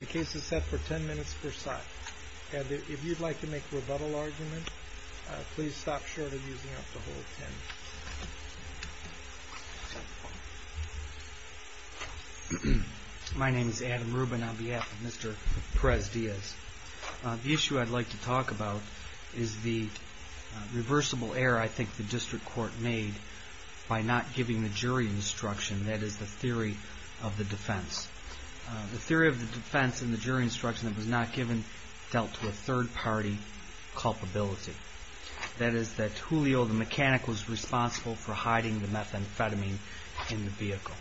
The case is set for ten minutes per side. If you'd like to make a rebuttal argument, please stop short of using up the whole ten minutes. My name is Adam Rubin on behalf of Mr. Perez-Diaz. The issue I'd like to talk about is the reversible error I think the District Court made by not giving the jury instruction, that is, the theory of the defense. The theory of the defense in the jury instruction that was not given dealt to a third party culpability. That is, that Julio, the mechanic, was responsible for hiding the methamphetamine in the vehicle.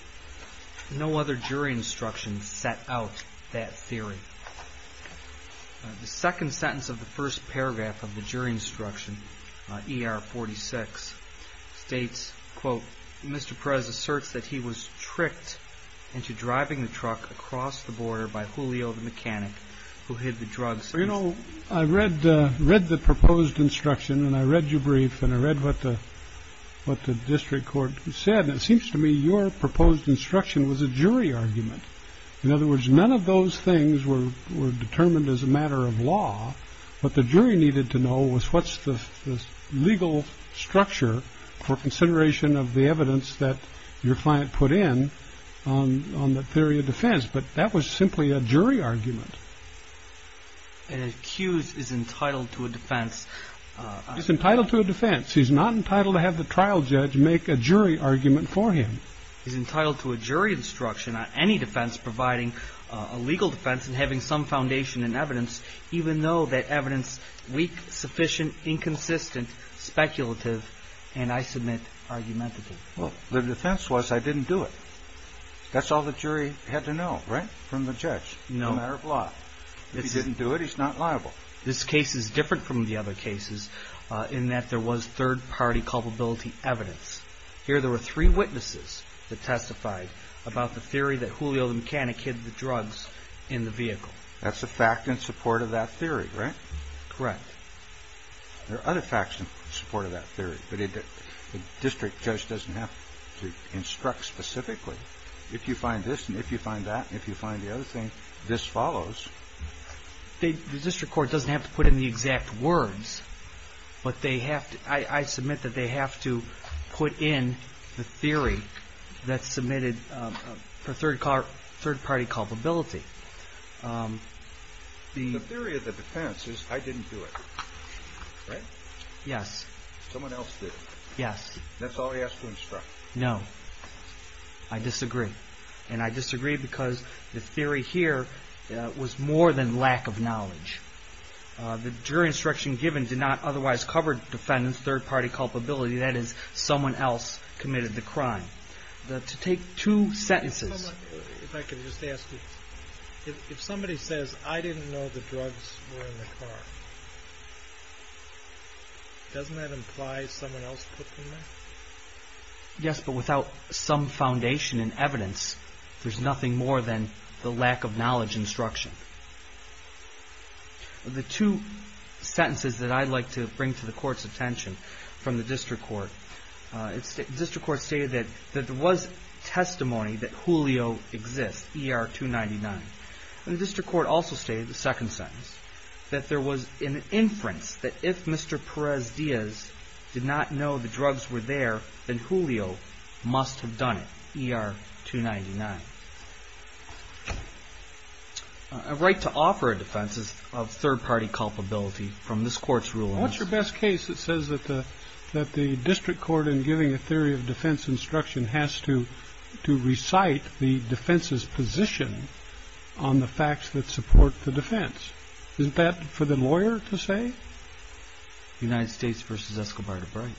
No other jury instruction set out that theory. The second sentence of the first paragraph of the jury instruction, ER 46, states, quote, Mr. Perez asserts that he was tricked into driving the truck across the border by Julio, the mechanic, who hid the drugs. You know, I read the proposed instruction, and I read your brief, and I read what the District Court said, and it seems to me your proposed instruction was a jury argument. In other words, none of those things were determined as a matter of law. What the jury needed to know was what's the legal structure for consideration of the evidence that your client put in on the theory of defense. But that was simply a jury argument. An accused is entitled to a defense. He's entitled to a defense. He's not entitled to have the trial judge make a jury argument for him. He's entitled to a jury instruction on any defense providing a legal defense and having some foundation in evidence, even though that evidence is weak, sufficient, inconsistent, speculative, and, I submit, argumentative. Well, the defense was I didn't do it. That's all the jury had to know, right, from the judge. No matter of law. If he didn't do it, he's not liable. This case is different from the other cases in that there was third-party culpability evidence. Here there were three witnesses that testified about the theory that Julio, the mechanic, hid the drugs in the vehicle. That's a fact in support of that theory, right? Correct. There are other facts in support of that theory, but the district judge doesn't have to instruct specifically. If you find this, and if you find that, and if you find the other thing, this follows. The district court doesn't have to put in the exact words, but I submit that they have to put in the theory that's submitted for third-party culpability. The theory of the defense is I didn't do it, right? Yes. Someone else did it. Yes. That's all he has to instruct. No. I disagree. And I disagree because the theory here was more than lack of knowledge. The jury instruction given did not otherwise cover defendant's third-party culpability. That is, someone else committed the crime. To take two sentences... If I could just ask you, if somebody says, I didn't know the drugs were in the car, doesn't that imply someone else put them there? Yes, but without some foundation in evidence, there's nothing more than the lack of knowledge instruction. The two sentences that I'd like to bring to the court's attention from the district court... The district court stated that there was testimony that Julio exists, ER-299. The district court also stated, the second sentence, that there was an inference that if Mr. Perez-Diaz did not know the drugs were there, then Julio must have done it, ER-299. A right to offer a defense is of third-party culpability from this court's ruling. What's your best case that says that the district court, in giving a theory of defense instruction, has to recite the defense's position on the facts that support the defense? Isn't that for the lawyer to say? United States v. Escobar de Bray.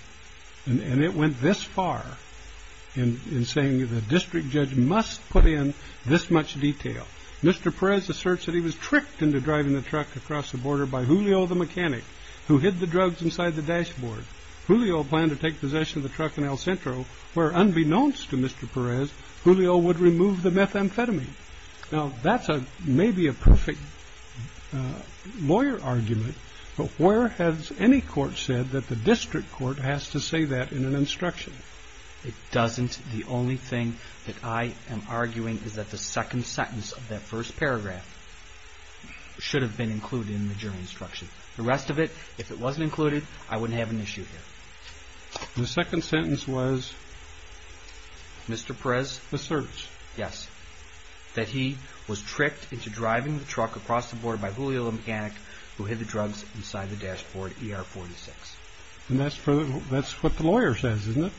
And it went this far in saying the district judge must put in this much detail. Mr. Perez asserts that he was tricked into driving the truck across the border by Julio the mechanic, who hid the drugs inside the dashboard. Julio planned to take possession of the truck in El Centro, where unbeknownst to Mr. Perez, Julio would remove the methamphetamine. Now, that's maybe a perfect lawyer argument, but where has any court said that the district court has to say that in an instruction? It doesn't. The only thing that I am arguing is that the second sentence of that first paragraph should have been included in the jury instruction. The rest of it, if it wasn't included, I wouldn't have an issue here. The second sentence was? Mr. Perez? Asserts. Yes. That he was tricked into driving the truck across the border by Julio the mechanic, who hid the drugs inside the dashboard ER 46. And that's what the lawyer says, isn't it?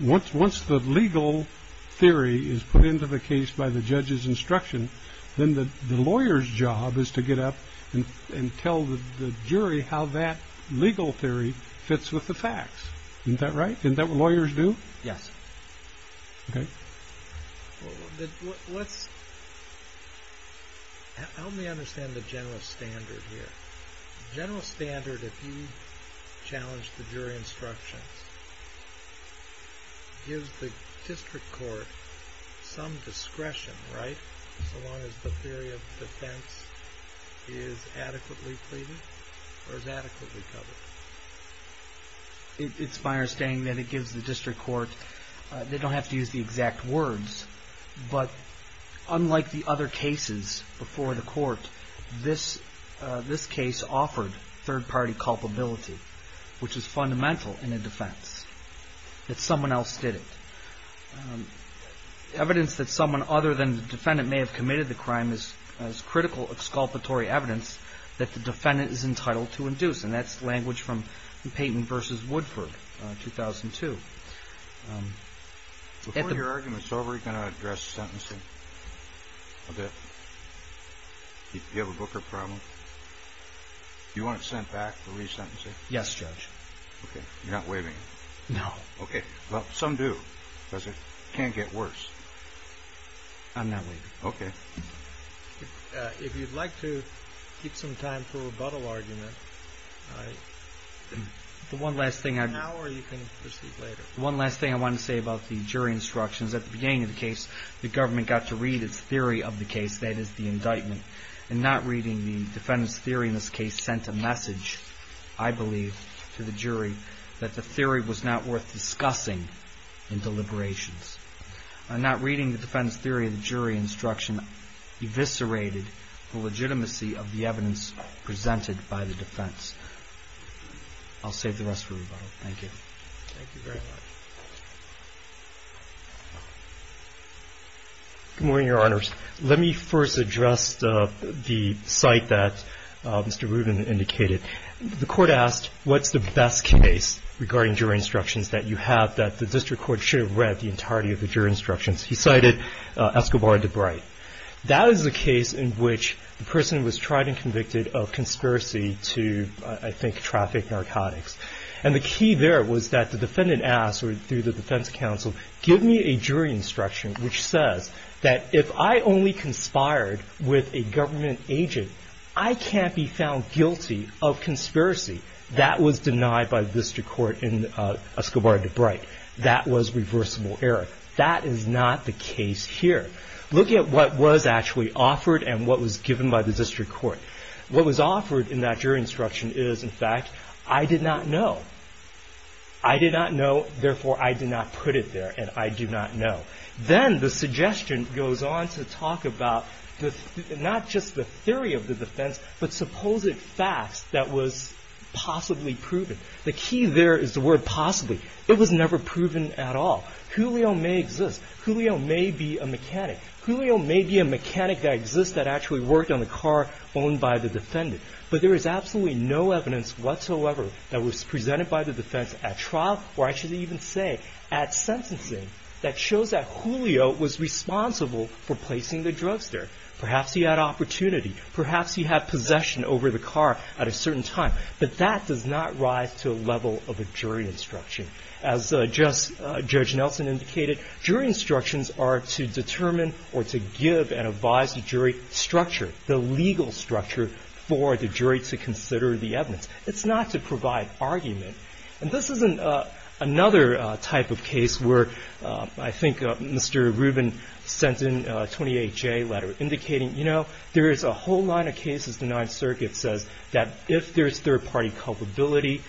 Once the legal theory is put into the case by the judge's instruction, then the lawyer's job is to get up and tell the jury how that legal theory fits with the facts. Isn't that right? Isn't that what lawyers do? Yes. Okay. Well, let's, help me understand the general standard here. General standard, if you challenge the jury instructions, gives the district court some discretion, right? So long as the theory of defense is adequately pleaded or is adequately covered. It's my understanding that it gives the district court, they don't have to use the exact words. But unlike the other cases before the court, this case offered third-party culpability, which is fundamental in a defense. That someone else did it. Evidence that someone other than the defendant may have committed the crime is critical exculpatory evidence that the defendant is entitled to induce. And that's language from Payton v. Woodford, 2002. Before your argument's over, are you going to address sentencing? Okay. Do you have a book or problem? Do you want it sent back for re-sentencing? Yes, Judge. Okay. You're not waiving it? No. Okay. Well, some do, because it can't get worse. I'm not waiving it. Okay. If you'd like to keep some time for a rebuttal argument, I... The one last thing I... Now or you can proceed later. One last thing I want to say about the jury instructions. At the beginning of the case, the government got to read its theory of the case, that is, the indictment. And not reading the defendant's theory in this case sent a message, I believe, to the jury that the theory was not worth discussing in deliberations. And not reading the defendant's theory of the jury instruction eviscerated the legitimacy of the evidence presented by the defense. I'll save the rest for rebuttal. Thank you. Thank you very much. Good morning, Your Honors. Let me first address the site that Mr. Rubin indicated. The court asked, what's the best case regarding jury instructions that you have that the district court should have read the entirety of the jury instructions? He cited Escobar de Bright. That is a case in which the person was tried and convicted of conspiracy to, I think, traffic narcotics. And the key there was that the defendant asked through the defense counsel, give me a jury instruction which says that if I only conspired with a government agent, I can't be found guilty of conspiracy. That was denied by the district court in Escobar de Bright. That was reversible error. That is not the case here. Look at what was actually offered and what was given by the district court. What was offered in that jury instruction is, in fact, I did not know. I did not know. Therefore, I did not put it there. And I do not know. Then the suggestion goes on to talk about not just the theory of the defense, but supposed facts that was possibly proven. The key there is the word possibly. It was never proven at all. Julio may exist. Julio may be a mechanic. Julio may be a mechanic that exists that actually worked on the car owned by the defendant. But there is absolutely no evidence whatsoever that was presented by the defense at trial, or I should even say at sentencing, that shows that Julio was responsible for placing the drugs there. Perhaps he had opportunity. Perhaps he had possession over the car at a certain time. But that does not rise to a level of a jury instruction. As Judge Nelson indicated, jury instructions are to determine or to give and advise the jury structure, the legal structure, for the jury to consider the evidence. It's not to provide argument. And this is another type of case where I think Mr. Rubin sent in a 28-J letter indicating, you know, there is a whole line of cases the Ninth Circuit says that if there is third-party culpability,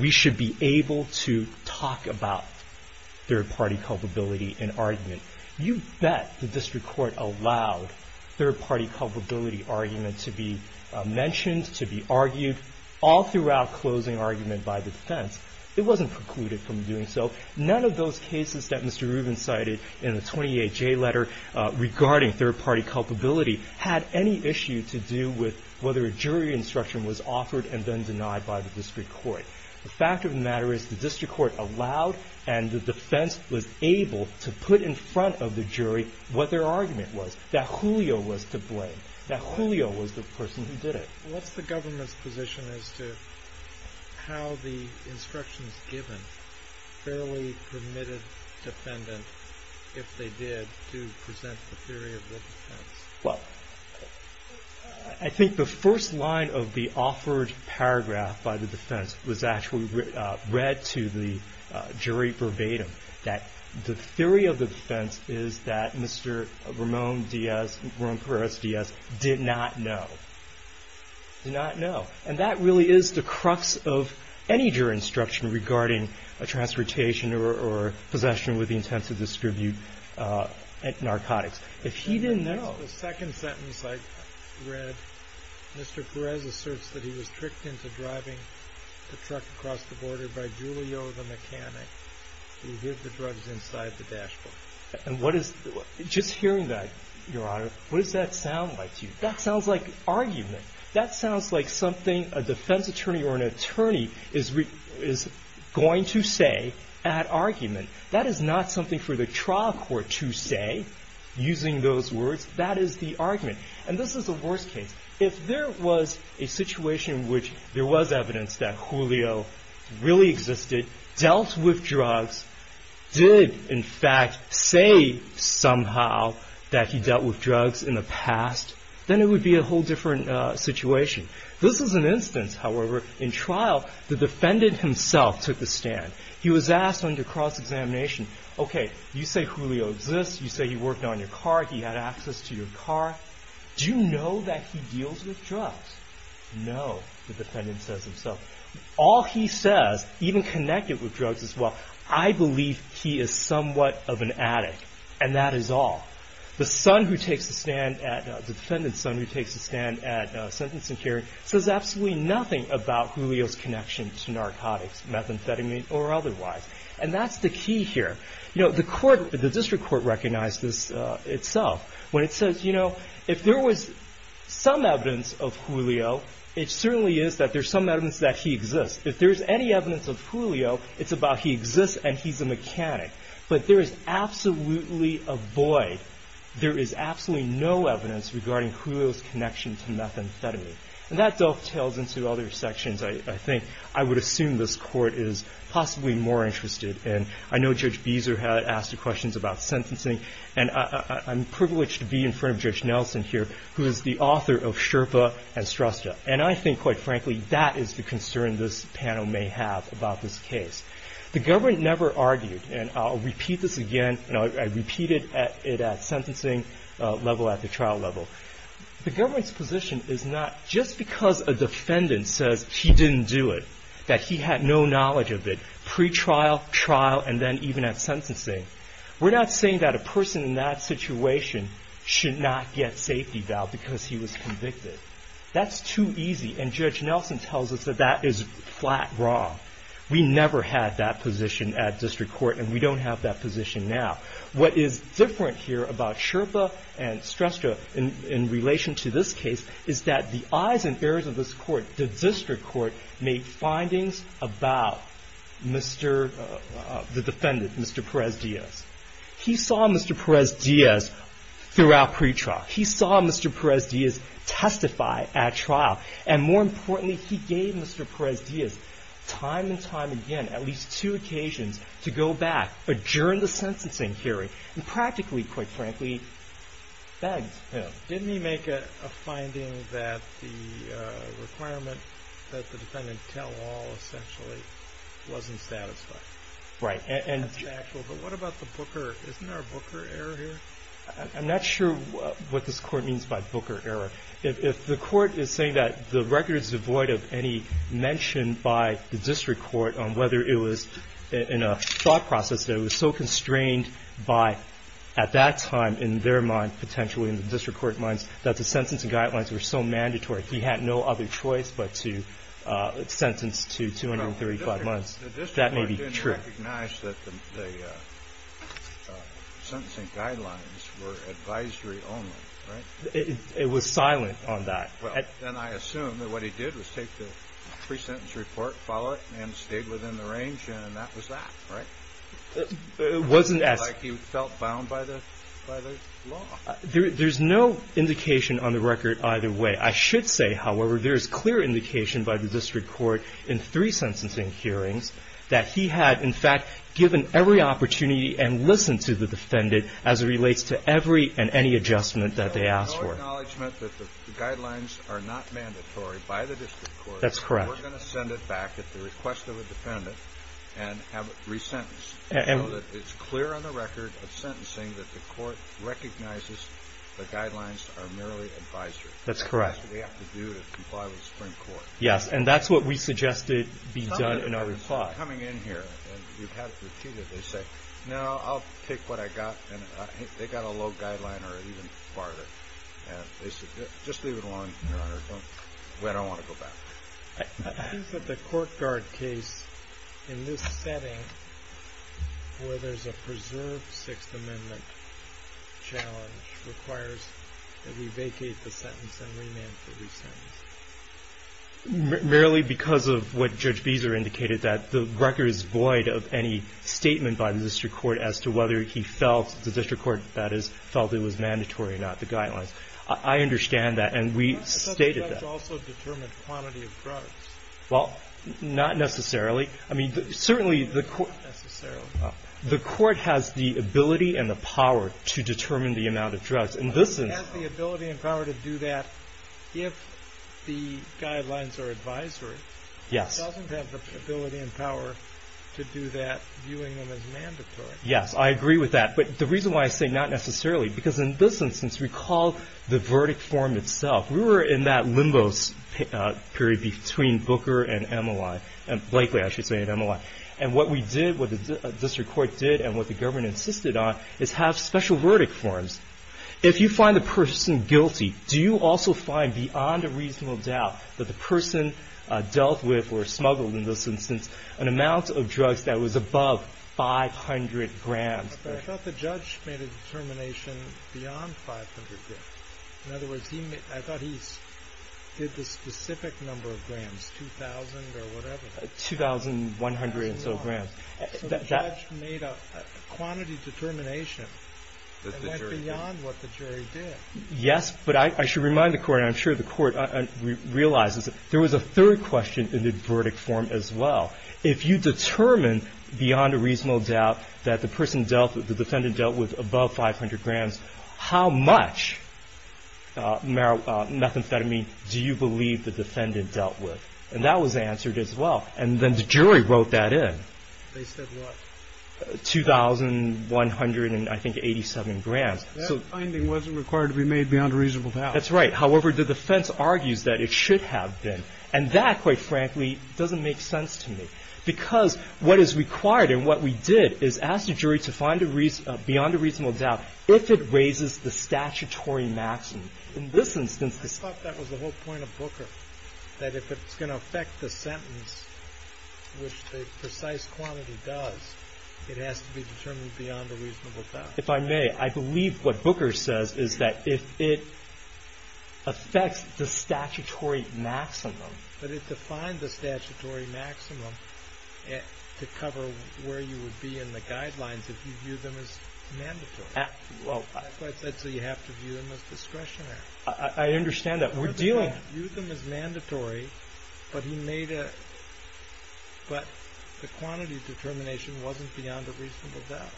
we should be able to talk about third-party culpability in argument. You bet the district court allowed third-party culpability argument to be mentioned, to be argued, all throughout closing argument by the defense. It wasn't precluded from doing so. None of those cases that Mr. Rubin cited in the 28-J letter regarding third-party culpability had any issue to do with whether a jury instruction was offered and then denied by the district court. The fact of the matter is the district court allowed and the defense was able to put in front of the jury what their argument was, that Julio was to blame, that Julio was the person who did it. What's the government's position as to how the instructions given fairly permitted defendant, if they did, to present the theory of the defense? Well, I think the first line of the offered paragraph by the defense was actually read to the jury verbatim, that the theory of the defense is that Mr. Ramon Diaz, Ramon Perez Diaz, did not know. Did not know. And that really is the crux of any jury instruction regarding a transportation or possession with the intent to distribute narcotics. If he didn't know. Well, the second sentence I read, Mr. Perez asserts that he was tricked into driving the truck across the border by Julio, the mechanic, who hid the drugs inside the dashboard. And what is, just hearing that, Your Honor, what does that sound like to you? That sounds like argument. That sounds like something a defense attorney or an attorney is going to say at argument. That is not something for the trial court to say, using those words. That is the argument. And this is the worst case. If there was a situation in which there was evidence that Julio really existed, dealt with drugs, did, in fact, say somehow that he dealt with drugs in the past, then it would be a whole different situation. This is an instance, however, in trial, the defendant himself took the stand. He was asked under cross-examination, okay, you say Julio exists. You say he worked on your car. He had access to your car. Do you know that he deals with drugs? No, the defendant says himself. All he says, even connected with drugs as well, I believe he is somewhat of an addict, and that is all. The son who takes the stand, the defendant's son who takes the stand at sentencing hearing, says absolutely nothing about Julio's connection to narcotics, methamphetamine, or otherwise. And that's the key here. You know, the court, the district court recognized this itself when it says, you know, if there was some evidence of Julio, it certainly is that there's some evidence that he exists. If there's any evidence of Julio, it's about he exists and he's a mechanic. But there is absolutely a void. There is absolutely no evidence regarding Julio's connection to methamphetamine. And that dovetails into other sections I think I would assume this court is possibly more interested in. I know Judge Beezer had asked questions about sentencing, and I'm privileged to be in front of Judge Nelson here, who is the author of Sherpa and Strusta. And I think, quite frankly, that is the concern this panel may have about this case. The government never argued, and I'll repeat this again. You know, I repeated it at sentencing level, at the trial level. The government's position is not just because a defendant says he didn't do it, that he had no knowledge of it, pretrial, trial, and then even at sentencing. We're not saying that a person in that situation should not get safety bail because he was convicted. That's too easy, and Judge Nelson tells us that that is flat wrong. We never had that position at district court, and we don't have that position now. What is different here about Sherpa and Strusta in relation to this case is that the eyes and ears of this court, the district court, made findings about the defendant, Mr. Perez-Diaz. He saw Mr. Perez-Diaz throughout pretrial. He saw Mr. Perez-Diaz testify at trial. And more importantly, he gave Mr. Perez-Diaz time and time again at least two occasions to go back, adjourn the sentencing hearing, and practically, quite frankly, begged him. Didn't he make a finding that the requirement that the defendant tell all essentially wasn't satisfied? Right. That's factual, but what about the Booker? Isn't there a Booker error here? I'm not sure what this court means by Booker error. If the court is saying that the record is devoid of any mention by the district court on whether it was in a thought process that it was so constrained by, at that time in their mind, potentially in the district court minds, that the sentencing guidelines were so mandatory he had no other choice but to sentence to 235 months, that may be true. The district court didn't recognize that the sentencing guidelines were advisory only, right? It was silent on that. Well, then I assume that what he did was take the pre-sentence report, follow it, and stayed within the range, and that was that, right? It wasn't as — Like he felt bound by the law. There's no indication on the record either way. I should say, however, there is clear indication by the district court in three sentencing hearings that he had, in fact, given every opportunity and listened to the defendant as it relates to every and any adjustment that they asked for. No acknowledgement that the guidelines are not mandatory by the district court. That's correct. We're going to send it back at the request of a defendant and have it re-sentenced so that it's clear on the record of sentencing that the court recognizes the guidelines are merely advisory. That's correct. That's what they have to do to comply with the Supreme Court. Yes, and that's what we suggested be done in our report. By coming in here and you've had it repeated, they say, no, I'll take what I got, and they got a low guideline or even farther, and they said, just leave it alone, Your Honor. We don't want to go back. I think that the court guard case in this setting where there's a preserved Sixth Amendment challenge requires that we vacate the sentence and rename it to re-sentence. Merely because of what Judge Beezer indicated, that the record is void of any statement by the district court as to whether he felt, the district court, that is, felt it was mandatory or not, the guidelines. I understand that, and we stated that. But the judge also determined the quantity of drugs. Well, not necessarily. I mean, certainly the court has the ability and the power to determine the amount of drugs. But he has the ability and power to do that if the guidelines are advisory. He doesn't have the ability and power to do that, viewing them as mandatory. Yes, I agree with that. But the reason why I say not necessarily, because in this instance, recall the verdict form itself. We were in that limbo period between Booker and MLI, Blakely, I should say, and MLI. And what we did, what the district court did, and what the government insisted on, is have special verdict forms. If you find the person guilty, do you also find, beyond a reasonable doubt, that the person dealt with or smuggled, in this instance, an amount of drugs that was above 500 grams? I thought the judge made a determination beyond 500 grams. In other words, I thought he did the specific number of grams, 2,000 or whatever. 2,100 or so grams. So the judge made a quantity determination that went beyond what the jury did. Yes, but I should remind the court, and I'm sure the court realizes, there was a third question in the verdict form as well. If you determine, beyond a reasonable doubt, that the defendant dealt with above 500 grams, how much methamphetamine do you believe the defendant dealt with? And that was answered as well. And then the jury wrote that in. They said what? 2,187 grams. That finding wasn't required to be made beyond a reasonable doubt. That's right. However, the defense argues that it should have been. And that, quite frankly, doesn't make sense to me. Because what is required, and what we did, is ask the jury to find beyond a reasonable doubt if it raises the statutory maximum. I thought that was the whole point of Booker. That if it's going to affect the sentence, which the precise quantity does, it has to be determined beyond a reasonable doubt. If I may, I believe what Booker says is that if it affects the statutory maximum. But it defined the statutory maximum to cover where you would be in the guidelines if you view them as mandatory. That's what I said. So you have to view them as discretionary. I understand that. We're dealing. View them as mandatory, but the quantity determination wasn't beyond a reasonable doubt.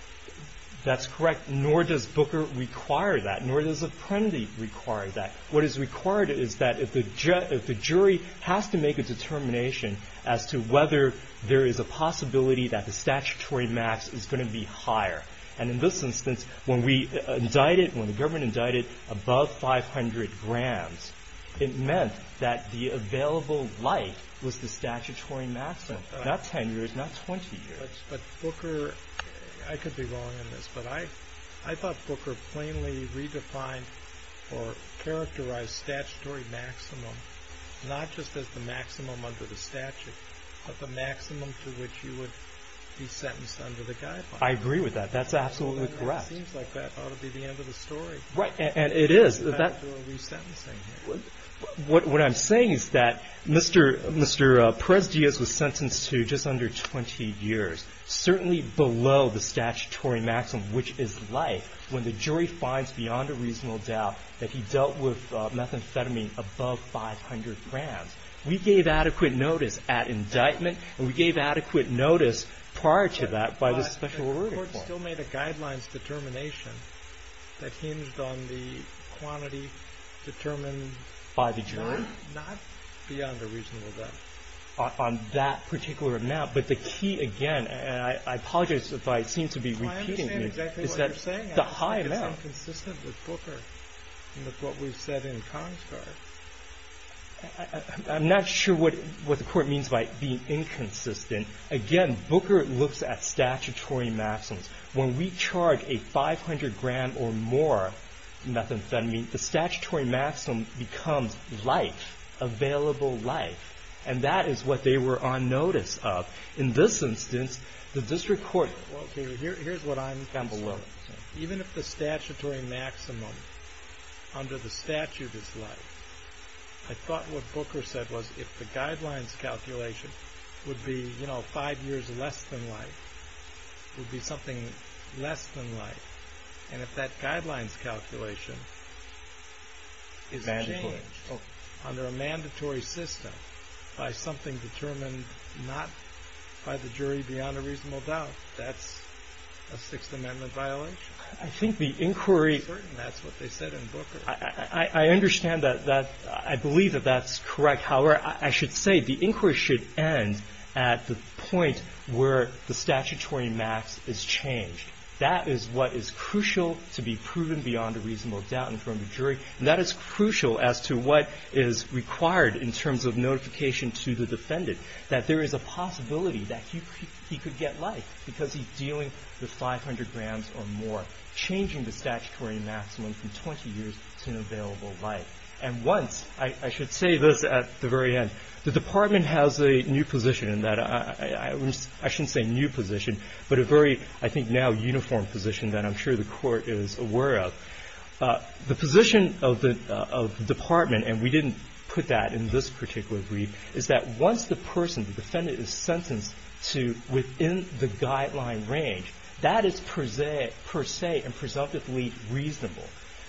That's correct. Nor does Booker require that. Nor does Apprendi require that. What is required is that if the jury has to make a determination as to whether there is a possibility that the statutory max is going to be higher. And in this instance, when we indicted, when the government indicted above 500 grams, it meant that the available life was the statutory maximum, not 10 years, not 20 years. But Booker, I could be wrong on this, but I thought Booker plainly redefined or characterized statutory maximum not just as the maximum under the statute, but the maximum to which you would be sentenced under the guidelines. I agree with that. That's absolutely correct. It seems like that ought to be the end of the story. Right. And it is. What I'm saying is that Mr. Perez-Diaz was sentenced to just under 20 years, certainly below the statutory maximum, which is life, when the jury finds beyond a reasonable doubt that he dealt with methamphetamine above 500 grams. We gave adequate notice at indictment. And we gave adequate notice prior to that by the special reporting board. But the board still made a guidelines determination that hinged on the quantity determined by the jury? Not beyond a reasonable doubt. On that particular amount. But the key, again, and I apologize if I seem to be repeating myself. I understand exactly what you're saying. It's the high amount. I think it's inconsistent with Booker and with what we've said in Congress. I'm not sure what the Court means by being inconsistent. Again, Booker looks at statutory maximums. When we charge a 500-gram or more methamphetamine, the statutory maximum becomes life, available life. And that is what they were on notice of. In this instance, the district court. Well, here's what I'm saying. Even if the statutory maximum under the statute is life, I thought what Booker said was if the guidelines calculation would be five years less than life, it would be something less than life. And if that guidelines calculation is changed under a mandatory system by something determined not by the jury beyond a reasonable doubt, that's a Sixth Amendment violation? I think the inquiry. I'm certain that's what they said in Booker. I understand that. I believe that that's correct. However, I should say the inquiry should end at the point where the statutory max is changed. That is what is crucial to be proven beyond a reasonable doubt in front of a jury. And that is crucial as to what is required in terms of notification to the defendant, that there is a possibility that he could get life because he's dealing with 500 grams or more, changing the statutory maximum from 20 years to an available life. And once, I should say this at the very end, the Department has a new position in that. I shouldn't say new position, but a very, I think, now uniform position that I'm sure the Court is aware of. The position of the Department, and we didn't put that in this particular brief, is that once the person, the defendant, is sentenced to within the guideline range, that is per se and presumptively reasonable.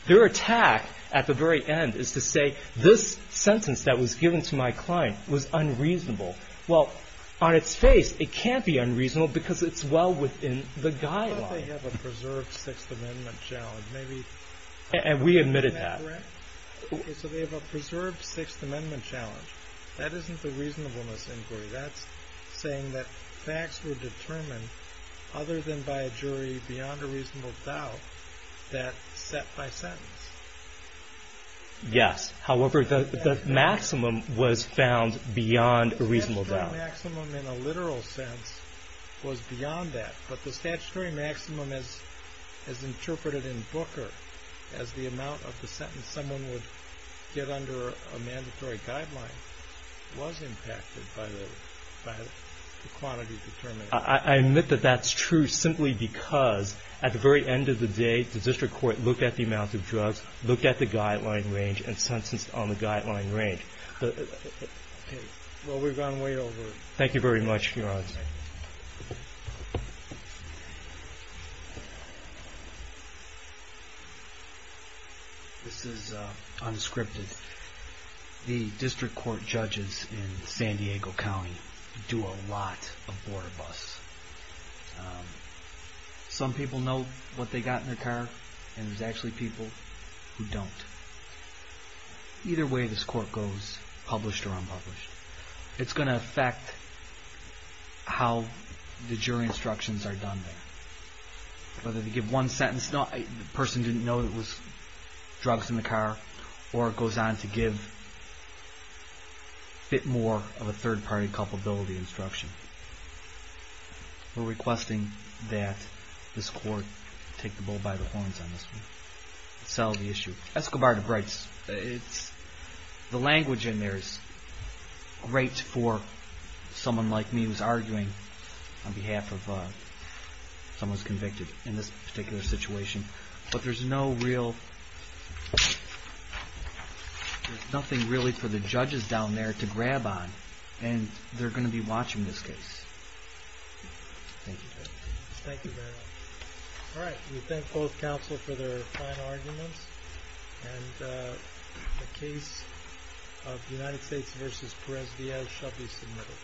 Their attack at the very end is to say this sentence that was given to my client was unreasonable. Well, on its face, it can't be unreasonable because it's well within the guideline. Unless they have a preserved Sixth Amendment challenge. And we admitted that. So they have a preserved Sixth Amendment challenge. That isn't the reasonableness inquiry. That's saying that facts were determined other than by a jury beyond a reasonable doubt that set my sentence. Yes. However, the maximum was found beyond a reasonable doubt. The maximum in a literal sense was beyond that. But the statutory maximum, as interpreted in Booker, as the amount of the sentence someone would get under a mandatory guideline, was impacted by the quantity determined. I admit that that's true simply because at the very end of the day, the District Court looked at the amount of drugs, looked at the guideline range, and sentenced on the guideline range. Well, we've gone way over. Thank you very much, Your Honor. This is unscripted. The District Court judges in San Diego County do a lot of border busts. Some people know what they got in their car, and there's actually people who don't. Either way this court goes, published or unpublished, it's going to affect how the jury instructions are done there. Whether they give one sentence, the person didn't know there was drugs in the car, or it goes on to give a bit more of a third-party culpability instruction. We're requesting that this court take the bull by the horns on this one. Escobar to Brites, the language in there is great for someone like me who's arguing on behalf of someone who's convicted in this particular situation, but there's nothing really for the judges down there to grab on, and they're going to be watching this case. Thank you. Thank you very much. All right, we thank both counsel for their fine arguments, and the case of United States v. Perez-Villal shall be submitted.